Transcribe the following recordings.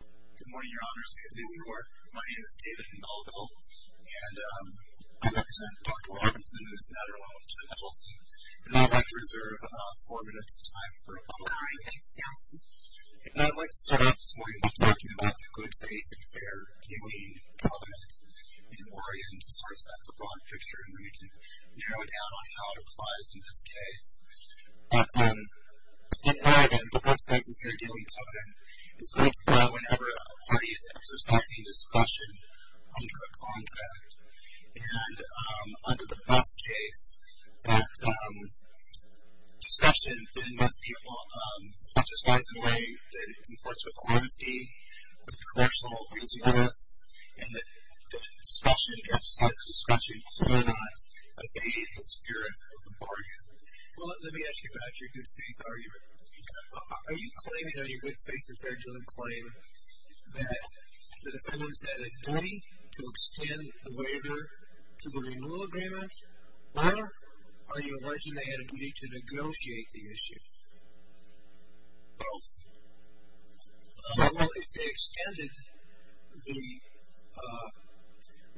Good morning, Your Honors. My name is David Melville, and I represent Dr. Robinson and his matter along with Ted Edelson, and I'd like to reserve four minutes of time for a public hearing. If not, I'd like to start off this morning by talking about the good faith and fair dealing covenant in Oregon to sort of set the broad picture, and then we can narrow it down on how it applies in this case. But in Oregon, the good faith and fair dealing covenant is going to prevail whenever a party is exercising discretion under a contract. And under the best case, that discretion, then most people exercise in a way that conforms with honesty, with commercial reasonableness, and that discretion, the exercise of discretion, will sooner or not evade the spirit of the bargain. Well, let me ask you about your good faith argument. Are you claiming on your good faith and fair dealing claim that the defendants had a duty to extend the waiver to the renewal agreement, or are you alleging they had a duty to negotiate the issue? Both. Well, if they extended the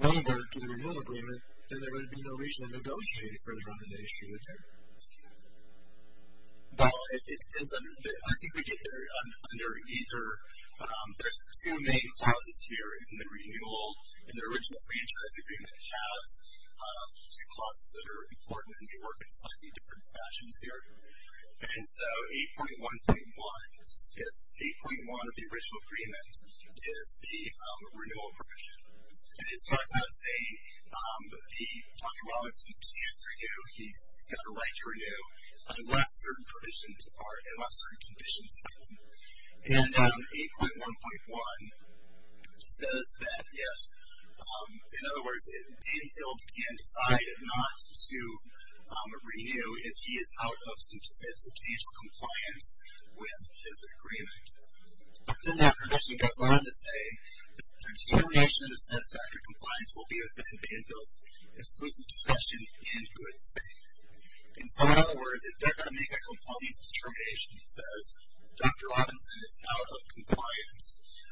waiver to the renewal agreement, then there would be no reason to negotiate it further on than they should. Well, I think we get there under either. There's two main clauses here in the renewal, and the original franchise agreement has two clauses that are important, and they work in slightly different fashions here. And so 8.1.1, 8.1 of the original agreement, is the renewal provision. And it starts out saying that Dr. Rollins can't renew, he's got a right to renew unless certain provisions are, unless certain conditions are met. And 8.1.1 says that if, in other words, if Danfield can decide not to renew, if he is out of substantial compliance with his agreement. But then that provision goes on to say that the determination of the satisfactory compliance will be within Danfield's exclusive discretion in good faith. In some other words, if they're going to make a compliance determination that says, Dr. Robinson is out of compliance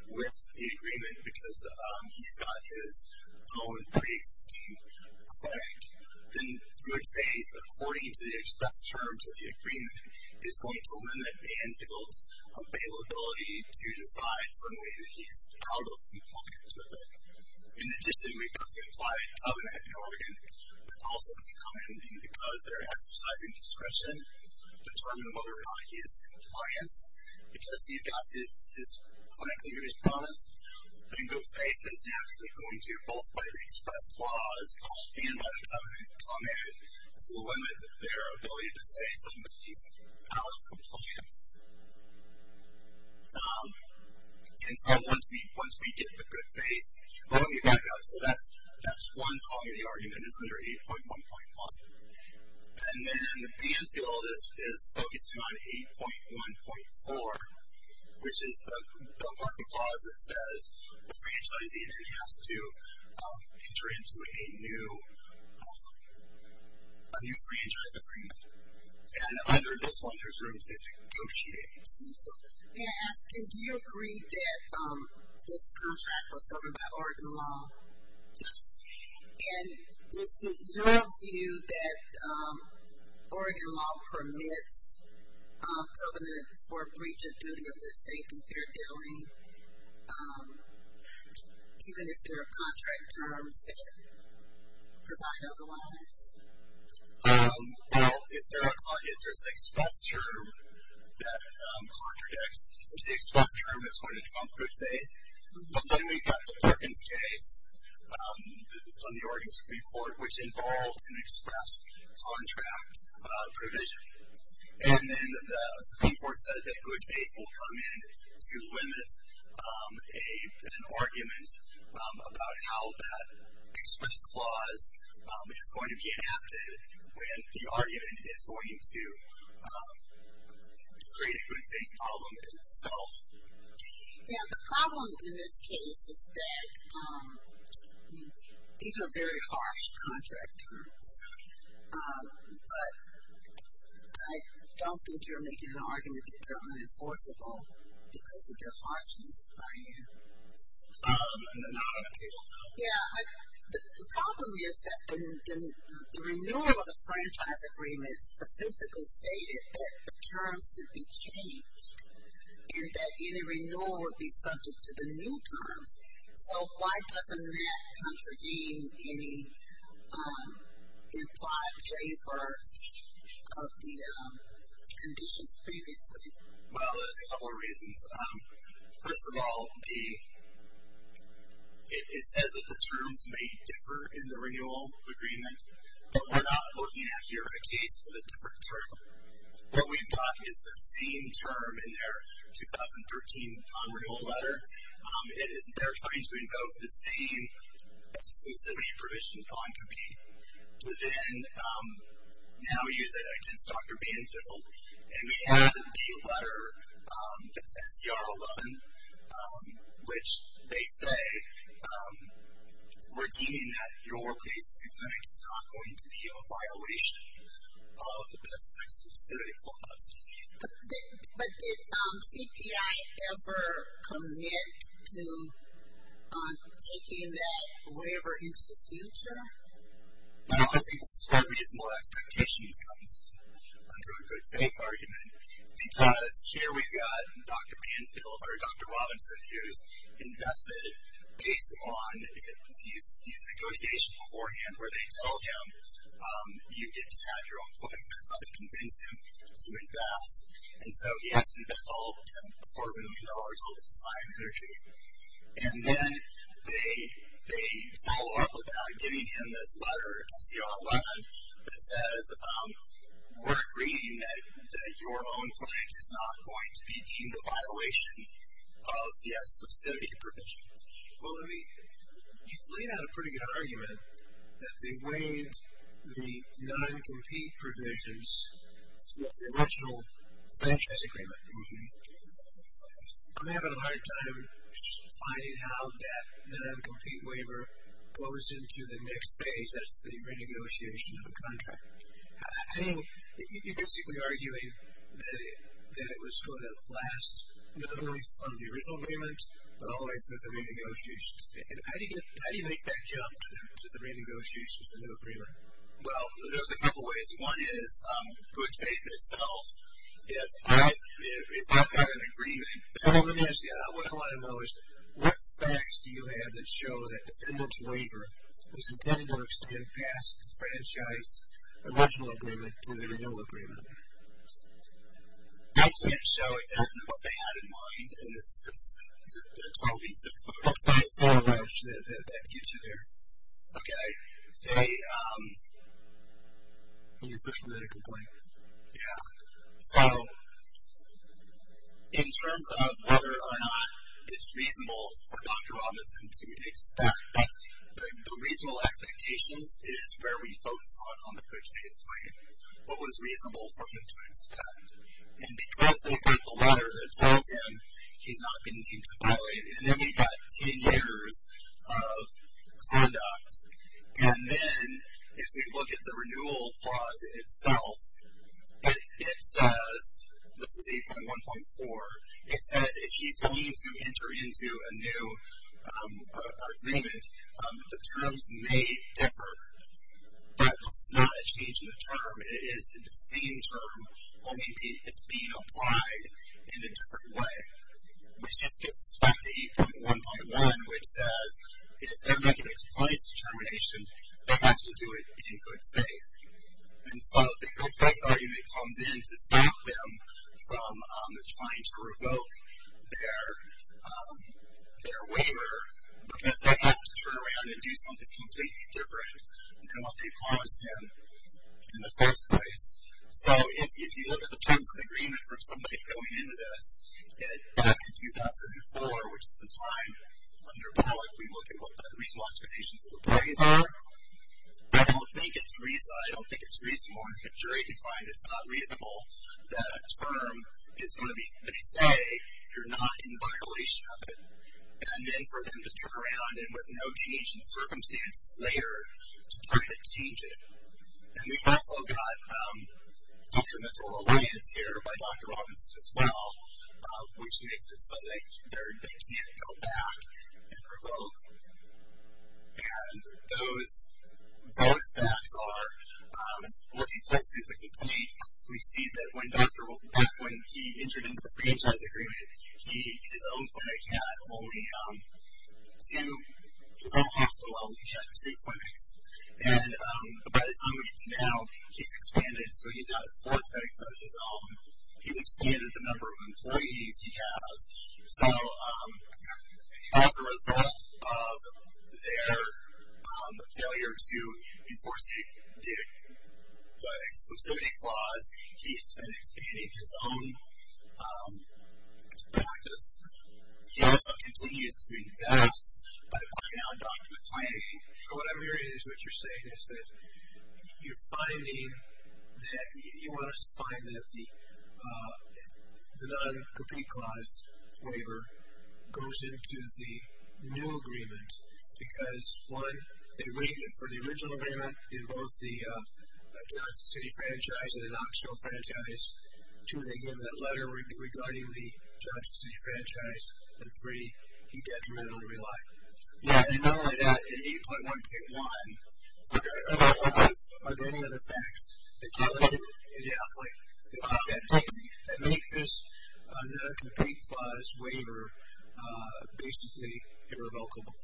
with the agreement because he's got his own pre-existing clinic, then good faith, according to the express terms of the agreement, is going to limit Danfield's availability to decide suddenly that he's out of compliance with it. In addition, we've got the implied covenant in Oregon. That's also going to come in because they're exercising discretion to determine whether or not he is in compliance. Because he's got his clinic that he's promised, then good faith is actually going to, both by the express clause and by the covenant comment, to limit their ability to say suddenly he's out of compliance. And so once we get the good faith, let me back up. So that's one column of the argument is under 8.1.1. And then Danfield is focusing on 8.1.4, which is the block of clause that says the franchisee then has to enter into a new franchise agreement. And under this one, there's room to negotiate. May I ask you, do you agree that this contract was governed by Oregon law? Yes. And is it your view that Oregon law permits covenant for breach of duty of good faith if you're dealing, even if there are contract terms that provide otherwise? Well, if there's an express term that contradicts, the express term is going to trump good faith. But then we've got the Perkins case from the Oregon Supreme Court, which involved an express contract provision. And then the Supreme Court said that good faith will come in to limit an argument about how that express clause is going to be adapted when the argument is going to create a good faith problem itself. Yeah, the problem in this case is that these are very harsh contract terms. But I don't think you're making an argument that they're unenforceable because of their harshness by you. No, not at all. Yeah, the problem is that the renewal of the franchise agreement specifically stated that the terms could be changed and that any renewal would be subject to the new terms. So why doesn't that contravene any implied waiver of the conditions previously? Well, there's a couple of reasons. First of all, it says that the terms may differ in the renewal agreement, but we're not looking at here at a case of a different term. What we've got is the same term in their 2013 non-renewal letter. They're trying to invoke the same exclusivity provision on compete to then now use it against Dr. Banfield. And we have the B letter that's SCR 11, which they say we're deeming that your case is not going to be a violation of the best exclusivity clause. But did CPI ever commit to taking that waiver into the future? Well, I think this is where reasonable expectations come under a good faith argument, because here we've got Dr. Banfield or Dr. Robinson who's invested based on these negotiations beforehand where they tell him you get to have your own claim. That's how they convince him to invest. And so he has to invest all of $4 million, all this time and energy. And then they follow up without giving him this letter, SCR 11, that says we're agreeing that your own claim is not going to be deemed a violation of the exclusivity provision. Well, you've laid out a pretty good argument that they waived the non-compete provisions of the original franchise agreement. I'm having a hard time finding how that non-compete waiver flows into the next phase, that's the renegotiation of the contract. I think you're basically arguing that it was going to last not only from the original agreement, but all the way through the renegotiation. How do you make that jump to the renegotiation of the new agreement? Well, there's a couple ways. One is good faith itself. If I've had an agreement. One of them is, yeah, what do I know is what facts do you have that show that the defendant's waiver was intended to extend past the franchise original agreement to the renewal agreement? I can't show exactly what they had in mind, and this is the 12-8-6 part. What facts do you have that get you there? Okay. Can we switch to the medical point? Yeah. So in terms of whether or not it's reasonable for Dr. Robinson to expect, the reasonable expectations is where we focus on on the good faith claim. What was reasonable for him to expect? And because they've got the letter that tells him he's not been deemed to violate it, and then we've got 10 years of conduct. And then if we look at the renewal clause itself, it says, this is 8.1.4, it says if he's going to enter into a new agreement, the terms may differ. But this is not a change in the term. It is the same term, only it's being applied in a different way, which gets us back to 8.1.1, which says if they're making a compliance determination, they have to do it in good faith. And so the good faith argument comes in to stop them from trying to revoke their waiver because they have to turn around and do something completely different than what they promised him in the first place. So if you look at the terms of the agreement from somebody going into this, back in 2004, which is the time under Bullock, we look at what the reasonable expectations of the plays are. I don't think it's reasonable, I don't think it's jury defined, it's not reasonable that a term is going to be, they say, you're not in violation of it. And then for them to turn around and with no change in circumstances later, to try to change it. And we've also got detrimental reliance here by Dr. Robinson as well, which makes it so they can't go back and revoke. And those facts are looking closely at the complaint. We see that back when he entered into the franchise agreement, his own clinic had only two, his own hospital only had two clinics. And by the time we get to now, he's expanded, so he's got four clinics of his own. He's expanded the number of employees he has. So as a result of their failure to enforce the exclusivity clause, he's been expanding his own practice. He also continues to invest by going out and documenting. So what I'm hearing is what you're saying is that you're finding that, you want us to find that the non-compete clause waiver goes into the new agreement. Because one, they waited for the original agreement in both the Johnson City franchise and an optional franchise. Two, they gave him that letter regarding the Johnson City franchise. And three, he detrimentally relied. And not only that, in 8.1.1, are there any other facts that make this non-compete clause waiver basically irrevocable,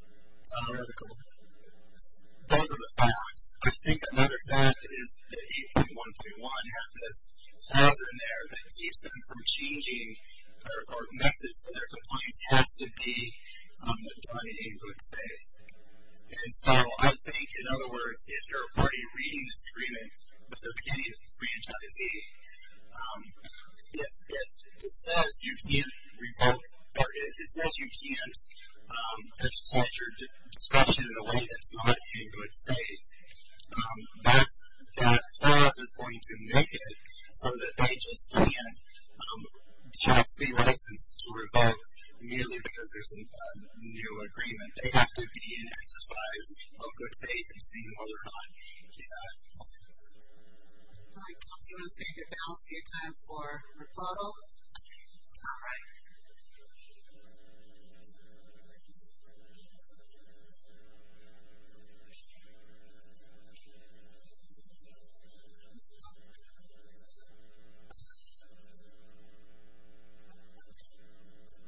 irrevocable? Those are the facts. I think another fact is that 8.1.1 has this clause in there that keeps them from changing or makes it so their compliance has to be done in good faith. And so I think, in other words, if you're a party reading this agreement, but they're beginning to franchisee, it says you can't revoke, or it says you can't exercise your discretion in a way that's not in good faith. That clause is going to make it so that they just, in the end, have to be licensed to revoke merely because there's a new agreement. They have to be in exercise of good faith in seeing whether or not they have compliance. All right. Do you want to save your balance for your time for rebuttal? All right.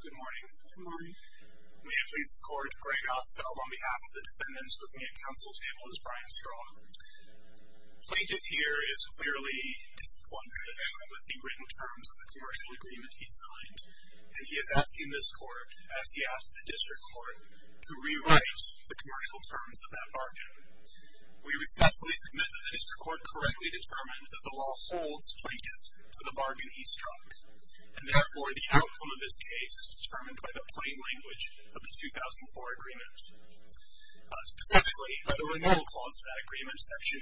Good morning. Good morning. May it please the Court, Greg Ostfeld on behalf of the defendants, with me at counsel's table is Brian Strong. Plaintiff here is clearly disappointed with the written terms of the commercial agreement he signed, and he is asking this Court, as he asked the district court, to rewrite the commercial terms of that bargain. We respectfully submit that the district court correctly determined that the law holds plaintiff to the bargain he struck, and therefore the outcome of this case is determined by the plain language of the 2004 agreement. Specifically, by the renewal clause of that agreement, section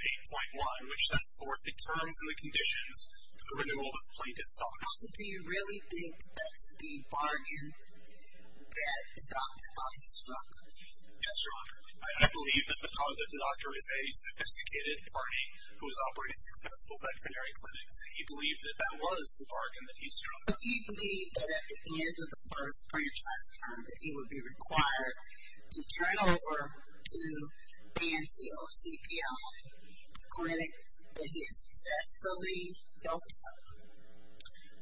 8.1, which sets forth the terms and the conditions for the renewal of plaintiff's song. Counsel, do you really think that's the bargain that the doctor thought he struck? Yes, Your Honor. I believe that the doctor is a sophisticated party who has operated successful veterinary clinics. He believed that that was the bargain that he struck. But he believed that at the end of the first franchise term, that he would be required to turn over to Banfield CPL clinic that he had successfully built up,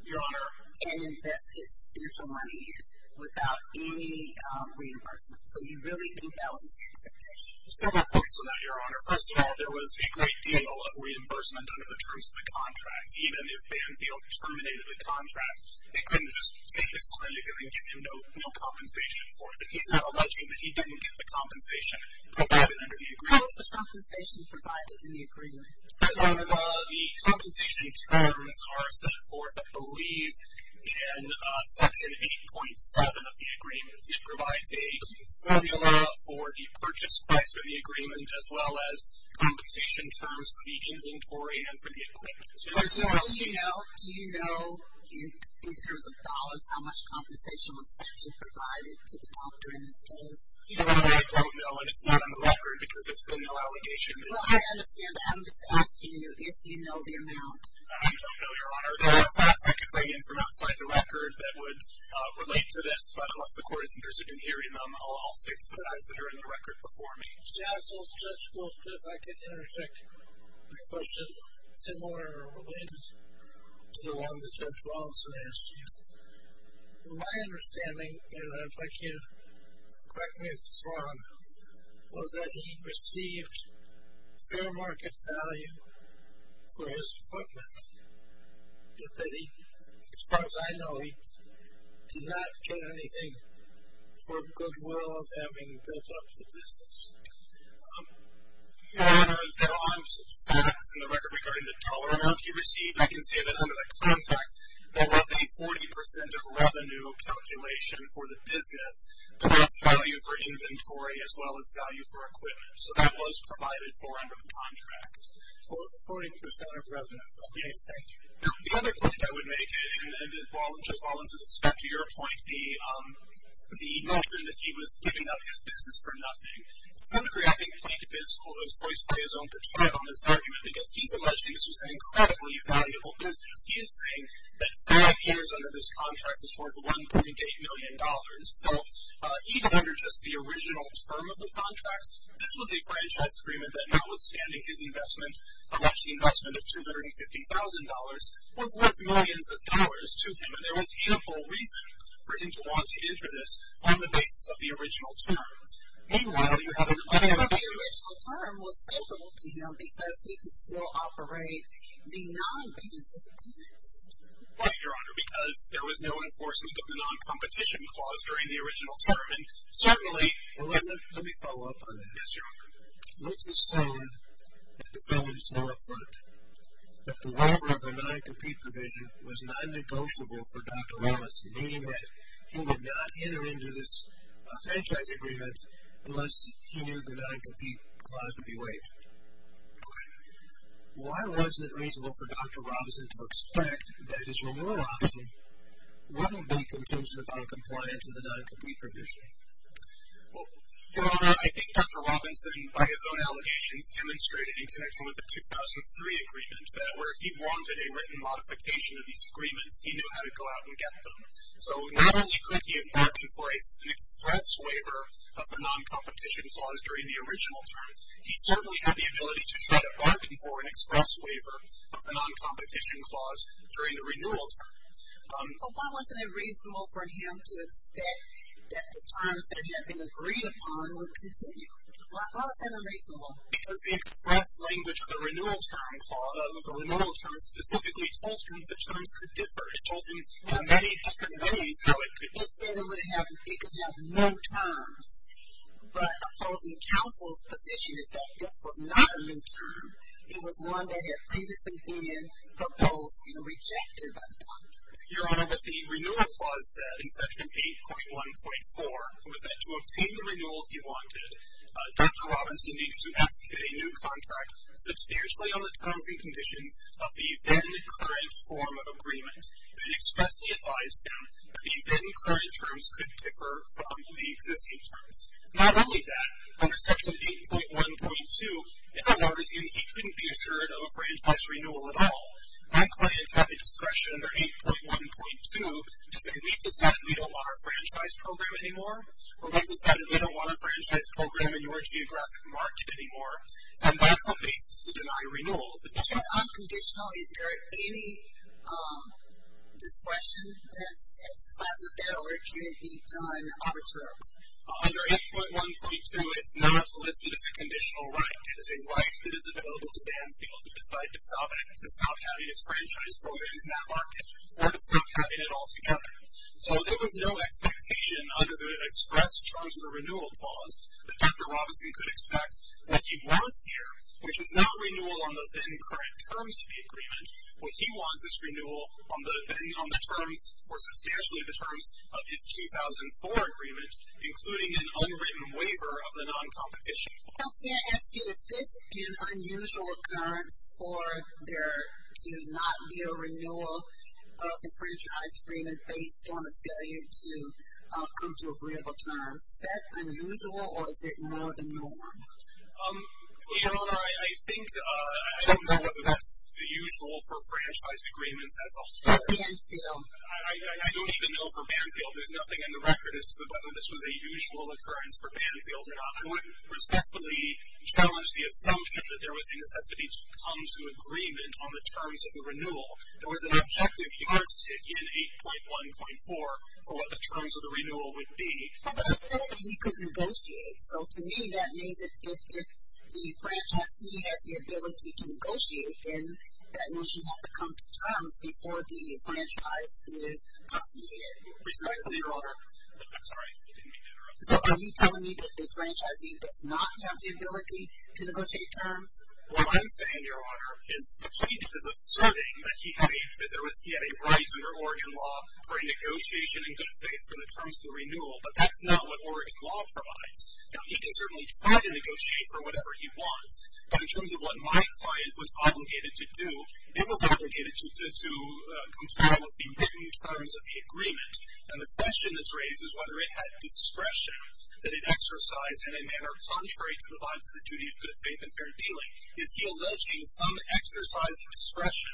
Your Honor, and invested substantial money in without any reimbursement. So you really think that was his expectation? Several points on that, Your Honor. First of all, there was a great deal of reimbursement under the terms of the contract. Even if Banfield terminated the contract, they couldn't just take his clinic and give him no compensation for it. He's alleging that he didn't get the compensation provided under the agreement. What was the compensation provided in the agreement? Your Honor, the compensation terms are set forth, I believe, in section 8.7 of the agreement. It provides a formula for the purchase price for the agreement, as well as compensation terms for the inventory and for the equipment. First of all, do you know, in terms of dollars, how much compensation was actually provided to the doctor in this case? Your Honor, I don't know, and it's not on the record because there's been no allegation. Well, I understand that. I'm just asking you if you know the amount. I don't know, Your Honor. There are facts I can bring in from outside the record that would relate to this. But unless the court is interested in hearing them, I'll stay to put an answer in the record before me. Counsel, Judge Goldsmith, I can interject a question similar or related to the one that Judge Wallinson asked you. My understanding, and I'd like you to correct me if it's wrong, was that he received fair market value for his equipment, but that he, as far as I know, did not get anything for goodwill of having built up the business. Your Honor, there are facts in the record regarding the dollar amount he received. I can say that under the contract, there was a 40% of revenue calculation for the business, but that's value for inventory as well as value for equipment. So that was provided for under the contract. 40% of revenue. Yes, thank you. The other point I would make, and Judge Wallinson, with respect to your point, the notion that he was giving up his business for nothing, to some degree, I think, plaintiff is always voiced by his own pertinent on this argument because he's alleging this was an incredibly valuable business. He is saying that five years under this contract was worth $1.8 million. So even under just the original term of the contract, this was a franchise agreement that notwithstanding his investment, or actually investment of $250,000, was worth millions of dollars to him, and there was ample reason for him to want to enter this on the basis of the original term. Meanwhile, you have another point. But the original term was favorable to him because he could still operate the non-business. Right, Your Honor, because there was no enforcement of the non-competition clause Let me follow up on that. Yes, Your Honor. Let's assume that the felons know up front that the waiver of the non-compete provision was non-negotiable for Dr. Robinson, meaning that he would not enter into this franchise agreement unless he knew the non-compete clause would be waived. Okay. Why wasn't it reasonable for Dr. Robinson to expect that his renewal option wouldn't be contingent upon compliance with the non-compete provision? Well, Your Honor, I think Dr. Robinson, by his own allegations, demonstrated in connection with the 2003 agreement that where he wanted a written modification of these agreements, he knew how to go out and get them. So not only could he have bargained for an express waiver of the non-competition clause during the original term, he certainly had the ability to try to bargain for an express waiver of the non-competition clause during the renewal term. But why wasn't it reasonable for him to expect that the terms that had been agreed upon would continue? Why was that unreasonable? Because the express language of the renewal term specifically told him the terms could differ. It told him in many different ways how it could differ. It said it could have no terms. But opposing counsel's position is that this was not a new term. It was one that had previously been proposed and rejected by the doctor. Your Honor, what the renewal clause said in Section 8.1.4 was that to obtain the renewal he wanted, Dr. Robinson needed to execute a new contract substantially on the terms and conditions of the then-current form of agreement. It expressly advised him that the then-current terms could differ from the existing terms. Not only that, under Section 8.1.2, if I wanted him, he couldn't be assured of a franchise renewal at all. My client had the discretion under 8.1.2 to say, we've decided we don't want our franchise program anymore, or we've decided we don't want our franchise program in your geographic market anymore. And that's a basis to deny renewal. So unconditional, is there any discretion that's exercised with that or can it be done arbitrarily? Under 8.1.2, it's not listed as a conditional right. It is a right that is available to Banfield to decide to stop having his franchise program in that market or to stop having it altogether. So there was no expectation under the express terms of the renewal clause that Dr. Robinson could expect that he wants here, which is not renewal on the then-current terms of the agreement, what he wants is renewal on the terms or substantially the terms of his 2004 agreement, including an unwritten waiver of the non-competition clause. Kelsey, I ask you, is this an unusual occurrence for there to not be a renewal of the franchise agreement based on a failure to come to agreeable terms? Is that unusual or is it more the norm? Leona, I think I don't know whether that's the usual for franchise agreements. That's a hard one. For Banfield. I don't even know for Banfield. There's nothing in the record as to whether this was a usual occurrence for Banfield or not. I would respectfully challenge the assumption that there was a necessity to come to agreement on the terms of the renewal. There was an objective yardstick in 8.1.4 for what the terms of the renewal would be. But I said he could negotiate. So to me that means if the franchisee has the ability to negotiate, then that means you have to come to terms before the franchise is consummated. Respectfully, Your Honor. I'm sorry. I didn't mean to interrupt. So are you telling me that the franchisee does not have the ability to negotiate terms? What I'm saying, Your Honor, is the plaintiff is asserting that he had a right under Oregon law for negotiation and good faith in the terms of the renewal, but that's not what Oregon law provides. Now, he can certainly try to negotiate for whatever he wants, but in terms of what my client was obligated to do, it was obligated to comply with the written terms of the agreement. And the question that's raised is whether it had discretion that it exercised in a manner contrary to the bonds of the duty of good faith and fair dealing. Is he alleging some exercise of discretion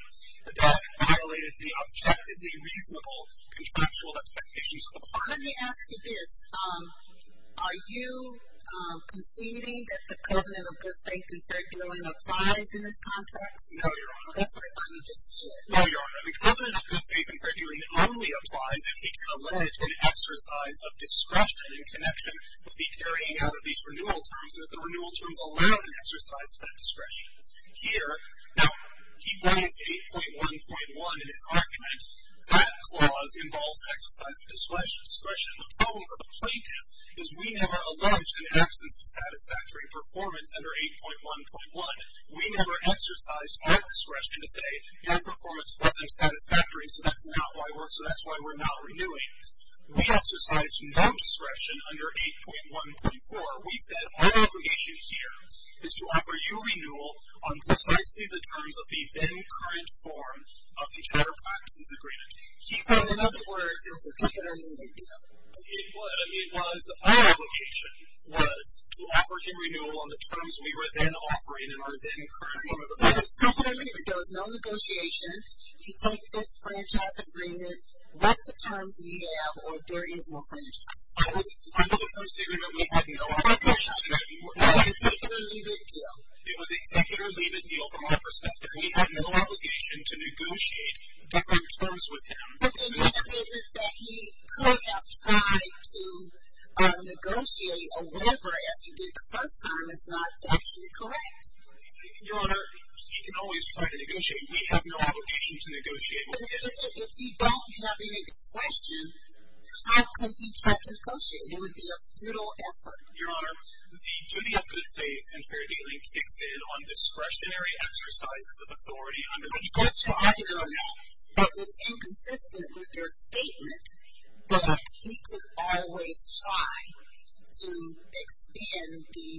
that violated the objectively reasonable contractual expectations of the client? Let me ask you this. Are you conceding that the covenant of good faith and fair dealing applies in this context? No, Your Honor. That's what I thought you just said. No, Your Honor. The covenant of good faith and fair dealing only applies if he can allege an exercise of discretion in connection with the carrying out of these renewal terms and if the renewal terms allow an exercise of that discretion. Here, now, he points to 8.1.1 in his argument. That clause involves exercise of discretion. The problem for the plaintiff is we never alleged an absence of satisfactory performance under 8.1.1. We never exercised our discretion to say our performance wasn't satisfactory, so that's why we're not renewing. We exercised no discretion under 8.1.4. We said our obligation here is to offer you renewal on precisely the terms of the then-current form of the charter practices agreement. So, in other words, it was a take-it-or-leave-it deal. It was our obligation was to offer you renewal on the terms we were then offering in our then-current form of the practices agreement. So, it's take-it-or-leave-it. There was no negotiation. You take this franchise agreement, what's the terms we have, or there is no franchise. Under the terms of the agreement, we had no obligation to do that. It was a take-it-or-leave-it deal. It was a take-it-or-leave-it deal from our perspective. We had no obligation to negotiate different terms with him. But then your statement that he could have tried to negotiate a waiver as he did the first time is not actually correct. Your Honor, he can always try to negotiate. We have no obligation to negotiate with him. But if he don't have any discretion, how could he try to negotiate? It would be a futile effort. Your Honor, the duty of good faith and fair dealing kicks in on discretionary exercises of authority under the... I'd like to argue on that, but it's inconsistent with your statement that he could always try to extend the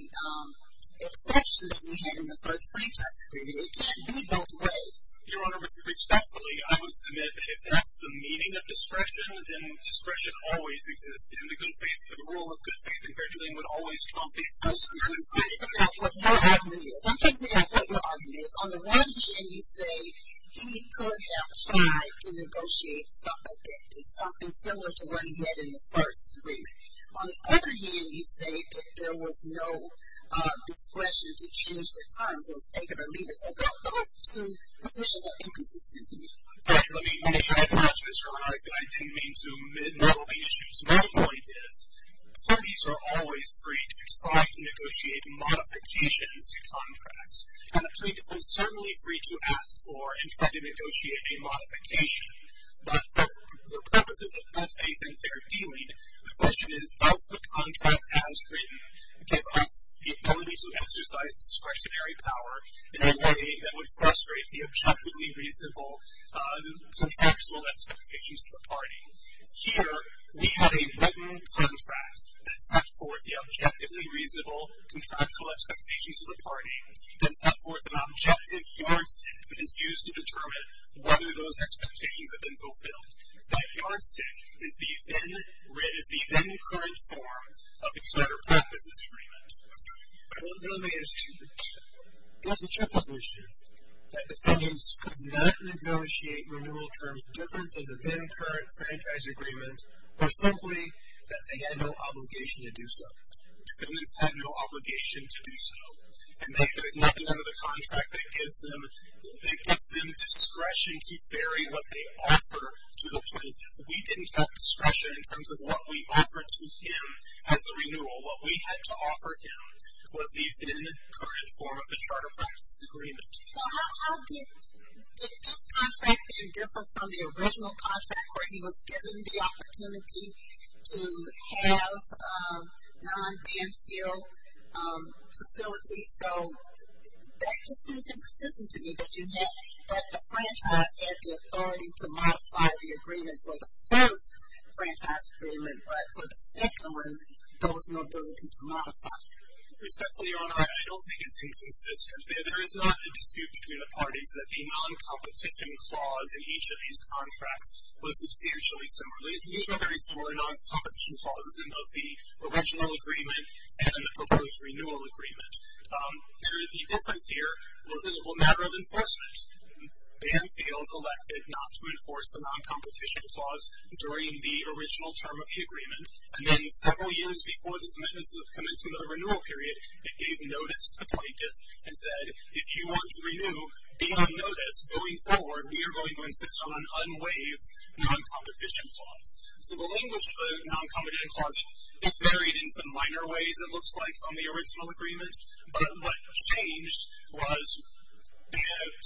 exception that he had in the first franchise agreement. It can't be both ways. Your Honor, respectfully, I would submit that if that's the meaning of discretion, then discretion always exists. And the rule of good faith and fair dealing would always trump the exception. I'm trying to figure out what your argument is. I'm trying to figure out what your argument is. On the one hand, you say he could have tried to negotiate something that did something similar to what he had in the first agreement. On the other hand, you say that there was no discretion to change the terms. It was take-it-or-leave-it. So those two positions are inconsistent to me. Correct. Let me add much to this, Your Honor. If you'd like to lead me into meddling issues. My point is parties are always free to try to negotiate modifications to contracts. And the plaintiff is certainly free to ask for and try to negotiate a modification. But for purposes of good faith and fair dealing, the question is, does the contract as written give us the ability to exercise discretionary power in a way that would frustrate the objectively reasonable contractual expectations of the party? Here, we have a written contract that set forth the objectively reasonable contractual expectations of the party, that set forth an objective yardstick that is used to determine whether those expectations have been fulfilled. That yardstick is the then-current form of the charter purposes agreement. I think the only thing that's true, there's a triples issue that defendants could not negotiate renewal terms different than the then-current franchise agreement, or simply that they had no obligation to do so. Defendants had no obligation to do so. And there's nothing under the contract that gives them discretion to vary what they offer to the plaintiff. We didn't have discretion in terms of what we offered to him as a renewal, what we had to offer him was the then-current form of the charter purposes agreement. So how did this contract then differ from the original contract where he was given the opportunity to have non-ban field facilities? So that just seems inconsistent to me, that the franchise had the authority to modify the agreement for the first franchise agreement, but for the second one, there was no ability to modify it. Respectfully, Your Honor, I don't think it's inconsistent. There is not a dispute between the parties that the non-competition clause in each of these contracts was substantially similar. These were very similar non-competition clauses in both the original agreement and in the proposed renewal agreement. The difference here was it was a matter of enforcement. Ban field elected not to enforce the non-competition clause during the original term of the agreement. And then several years before the commencement of the renewal period, it gave notice to plaintiffs and said, if you want to renew beyond notice going forward, we are going to insist on an unwaived non-competition clause. So the language of the non-competition clause, it varied in some minor ways, it looks like, on the original agreement. But what changed was the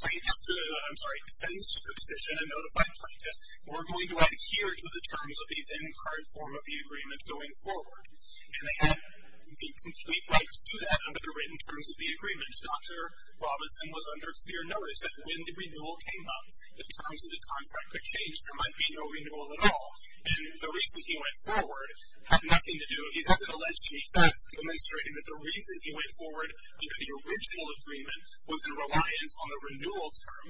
plaintiff took a position and notified plaintiffs, we're going to adhere to the terms of the end card form of the agreement going forward. And they had the complete right to do that under the written terms of the agreement. Dr. Robinson was under clear notice that when the renewal came up, the terms of the contract could change, there might be no renewal at all. And the reason he went forward had nothing to do, he hasn't alleged any thefts, demonstrating that the reason he went forward under the original agreement was in reliance on the renewal term.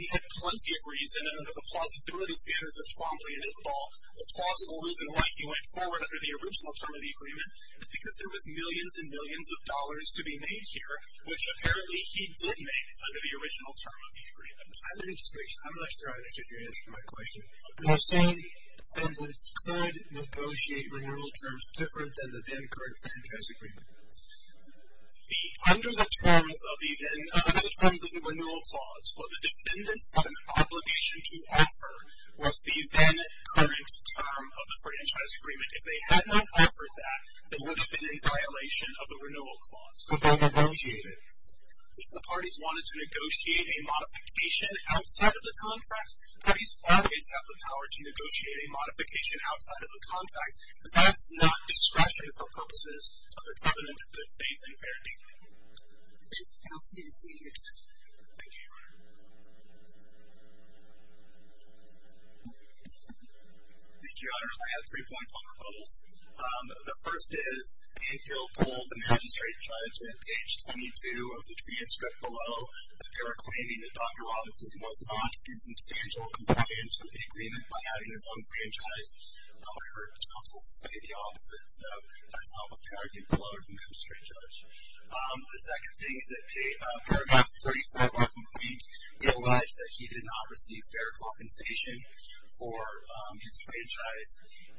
He had plenty of reason, and under the plausibility standards of Twombly and Iqbal, the plausible reason why he went forward under the original term of the agreement is because there was millions and millions of dollars to be made here, which apparently he did make under the original term of the agreement. I'm not sure I understood your answer to my question. You're saying defendants could negotiate renewal terms different than the end card franchise agreement. Under the terms of the renewal clause, what the defendants had an obligation to offer was the then current term of the franchise agreement. If they had not offered that, it would have been in violation of the renewal clause. But they negotiated. If the parties wanted to negotiate a modification outside of the contract, parties always have the power to negotiate a modification outside of the contract, but that's not discretion for purposes of the covenant of good faith and fair dealing. Thank you. Thank you, Your Honor. Thank you, Your Honors. I have three points on rebuttals. The first is, Anne Hill told the magistrate judge at page 22 of the transcript below that they were claiming that Dr. Robinson was not in substantial compliance with the agreement by having his own franchise. I heard counsel say the opposite, so that's not what they argued below the magistrate judge. The second thing is that paragraph 34 of our complaint, it alleged that he did not receive fair compensation for his franchise.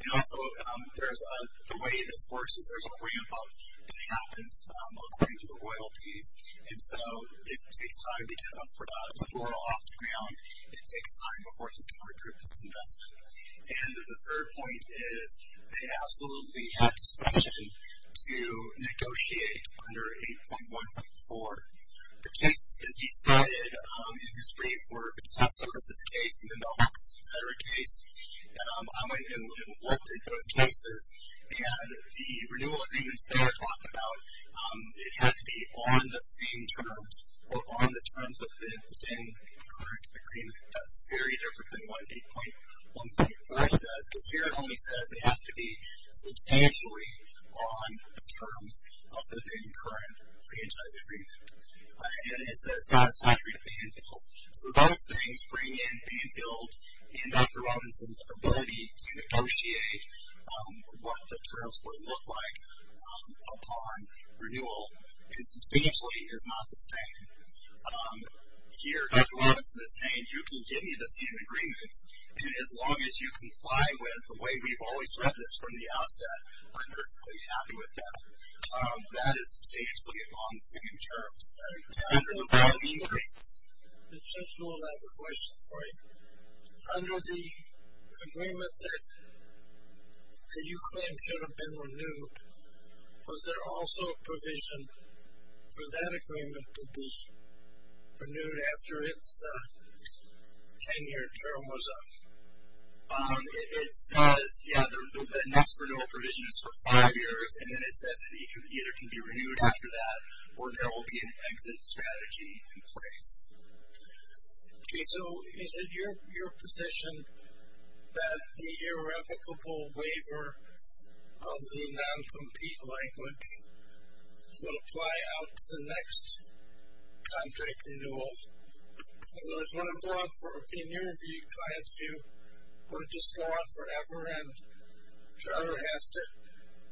And also, the way this works is there's a ramp up that happens according to the royalties, and so it takes time to get a fedora off the ground. It takes time before he's going to recoup his investment. And the third point is, they absolutely had discretion to negotiate under 8.1.4. The cases that he cited in his brief were the test services case and the mailbox, et cetera case. I went and looked at those cases, and the renewal agreements they are talking about, it had to be on the same terms or on the terms of the current agreement. That's very different than what 8.1.3 says, because here it only says it has to be substantially on the terms of the current franchise agreement. And it says it's not free to Banfield. So those things bring in Banfield and Dr. Robinson's ability to negotiate what the terms would look like upon renewal, and substantially is not the same. Here Dr. Robinson is saying you can give me the same agreements, and as long as you comply with the way we've always read this from the outset, I'm perfectly happy with that. That is substantially on the same terms. Under the Banfield case. It's just one other question for you. Under the agreement that you claim should have been renewed, was there also a provision for that agreement to be renewed after its 10-year term was up? It says, yeah, the next renewal provision is for five years, and then it says that it either can be renewed after that, or there will be an exit strategy in place. Okay, so is it your position that the irrevocable waiver of the non-compete language will apply out to the next contract renewal? I just want to go off from a premiere view, client's view, or just go on forever, and Trevor has to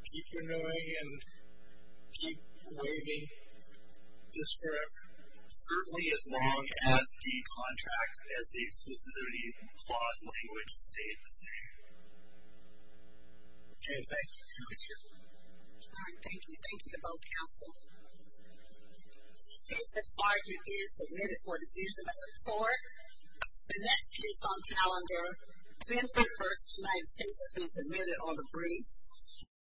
keep renewing and keep waiving just forever? Certainly as long as the contract, as the exclusivity clause language stays the same. Okay, thank you. Commissioner? All right, thank you. Thank you to both counsel. The case that's argued is submitted for a decision by the court. The next case on calendar, Benford versus United States has been submitted on the briefs.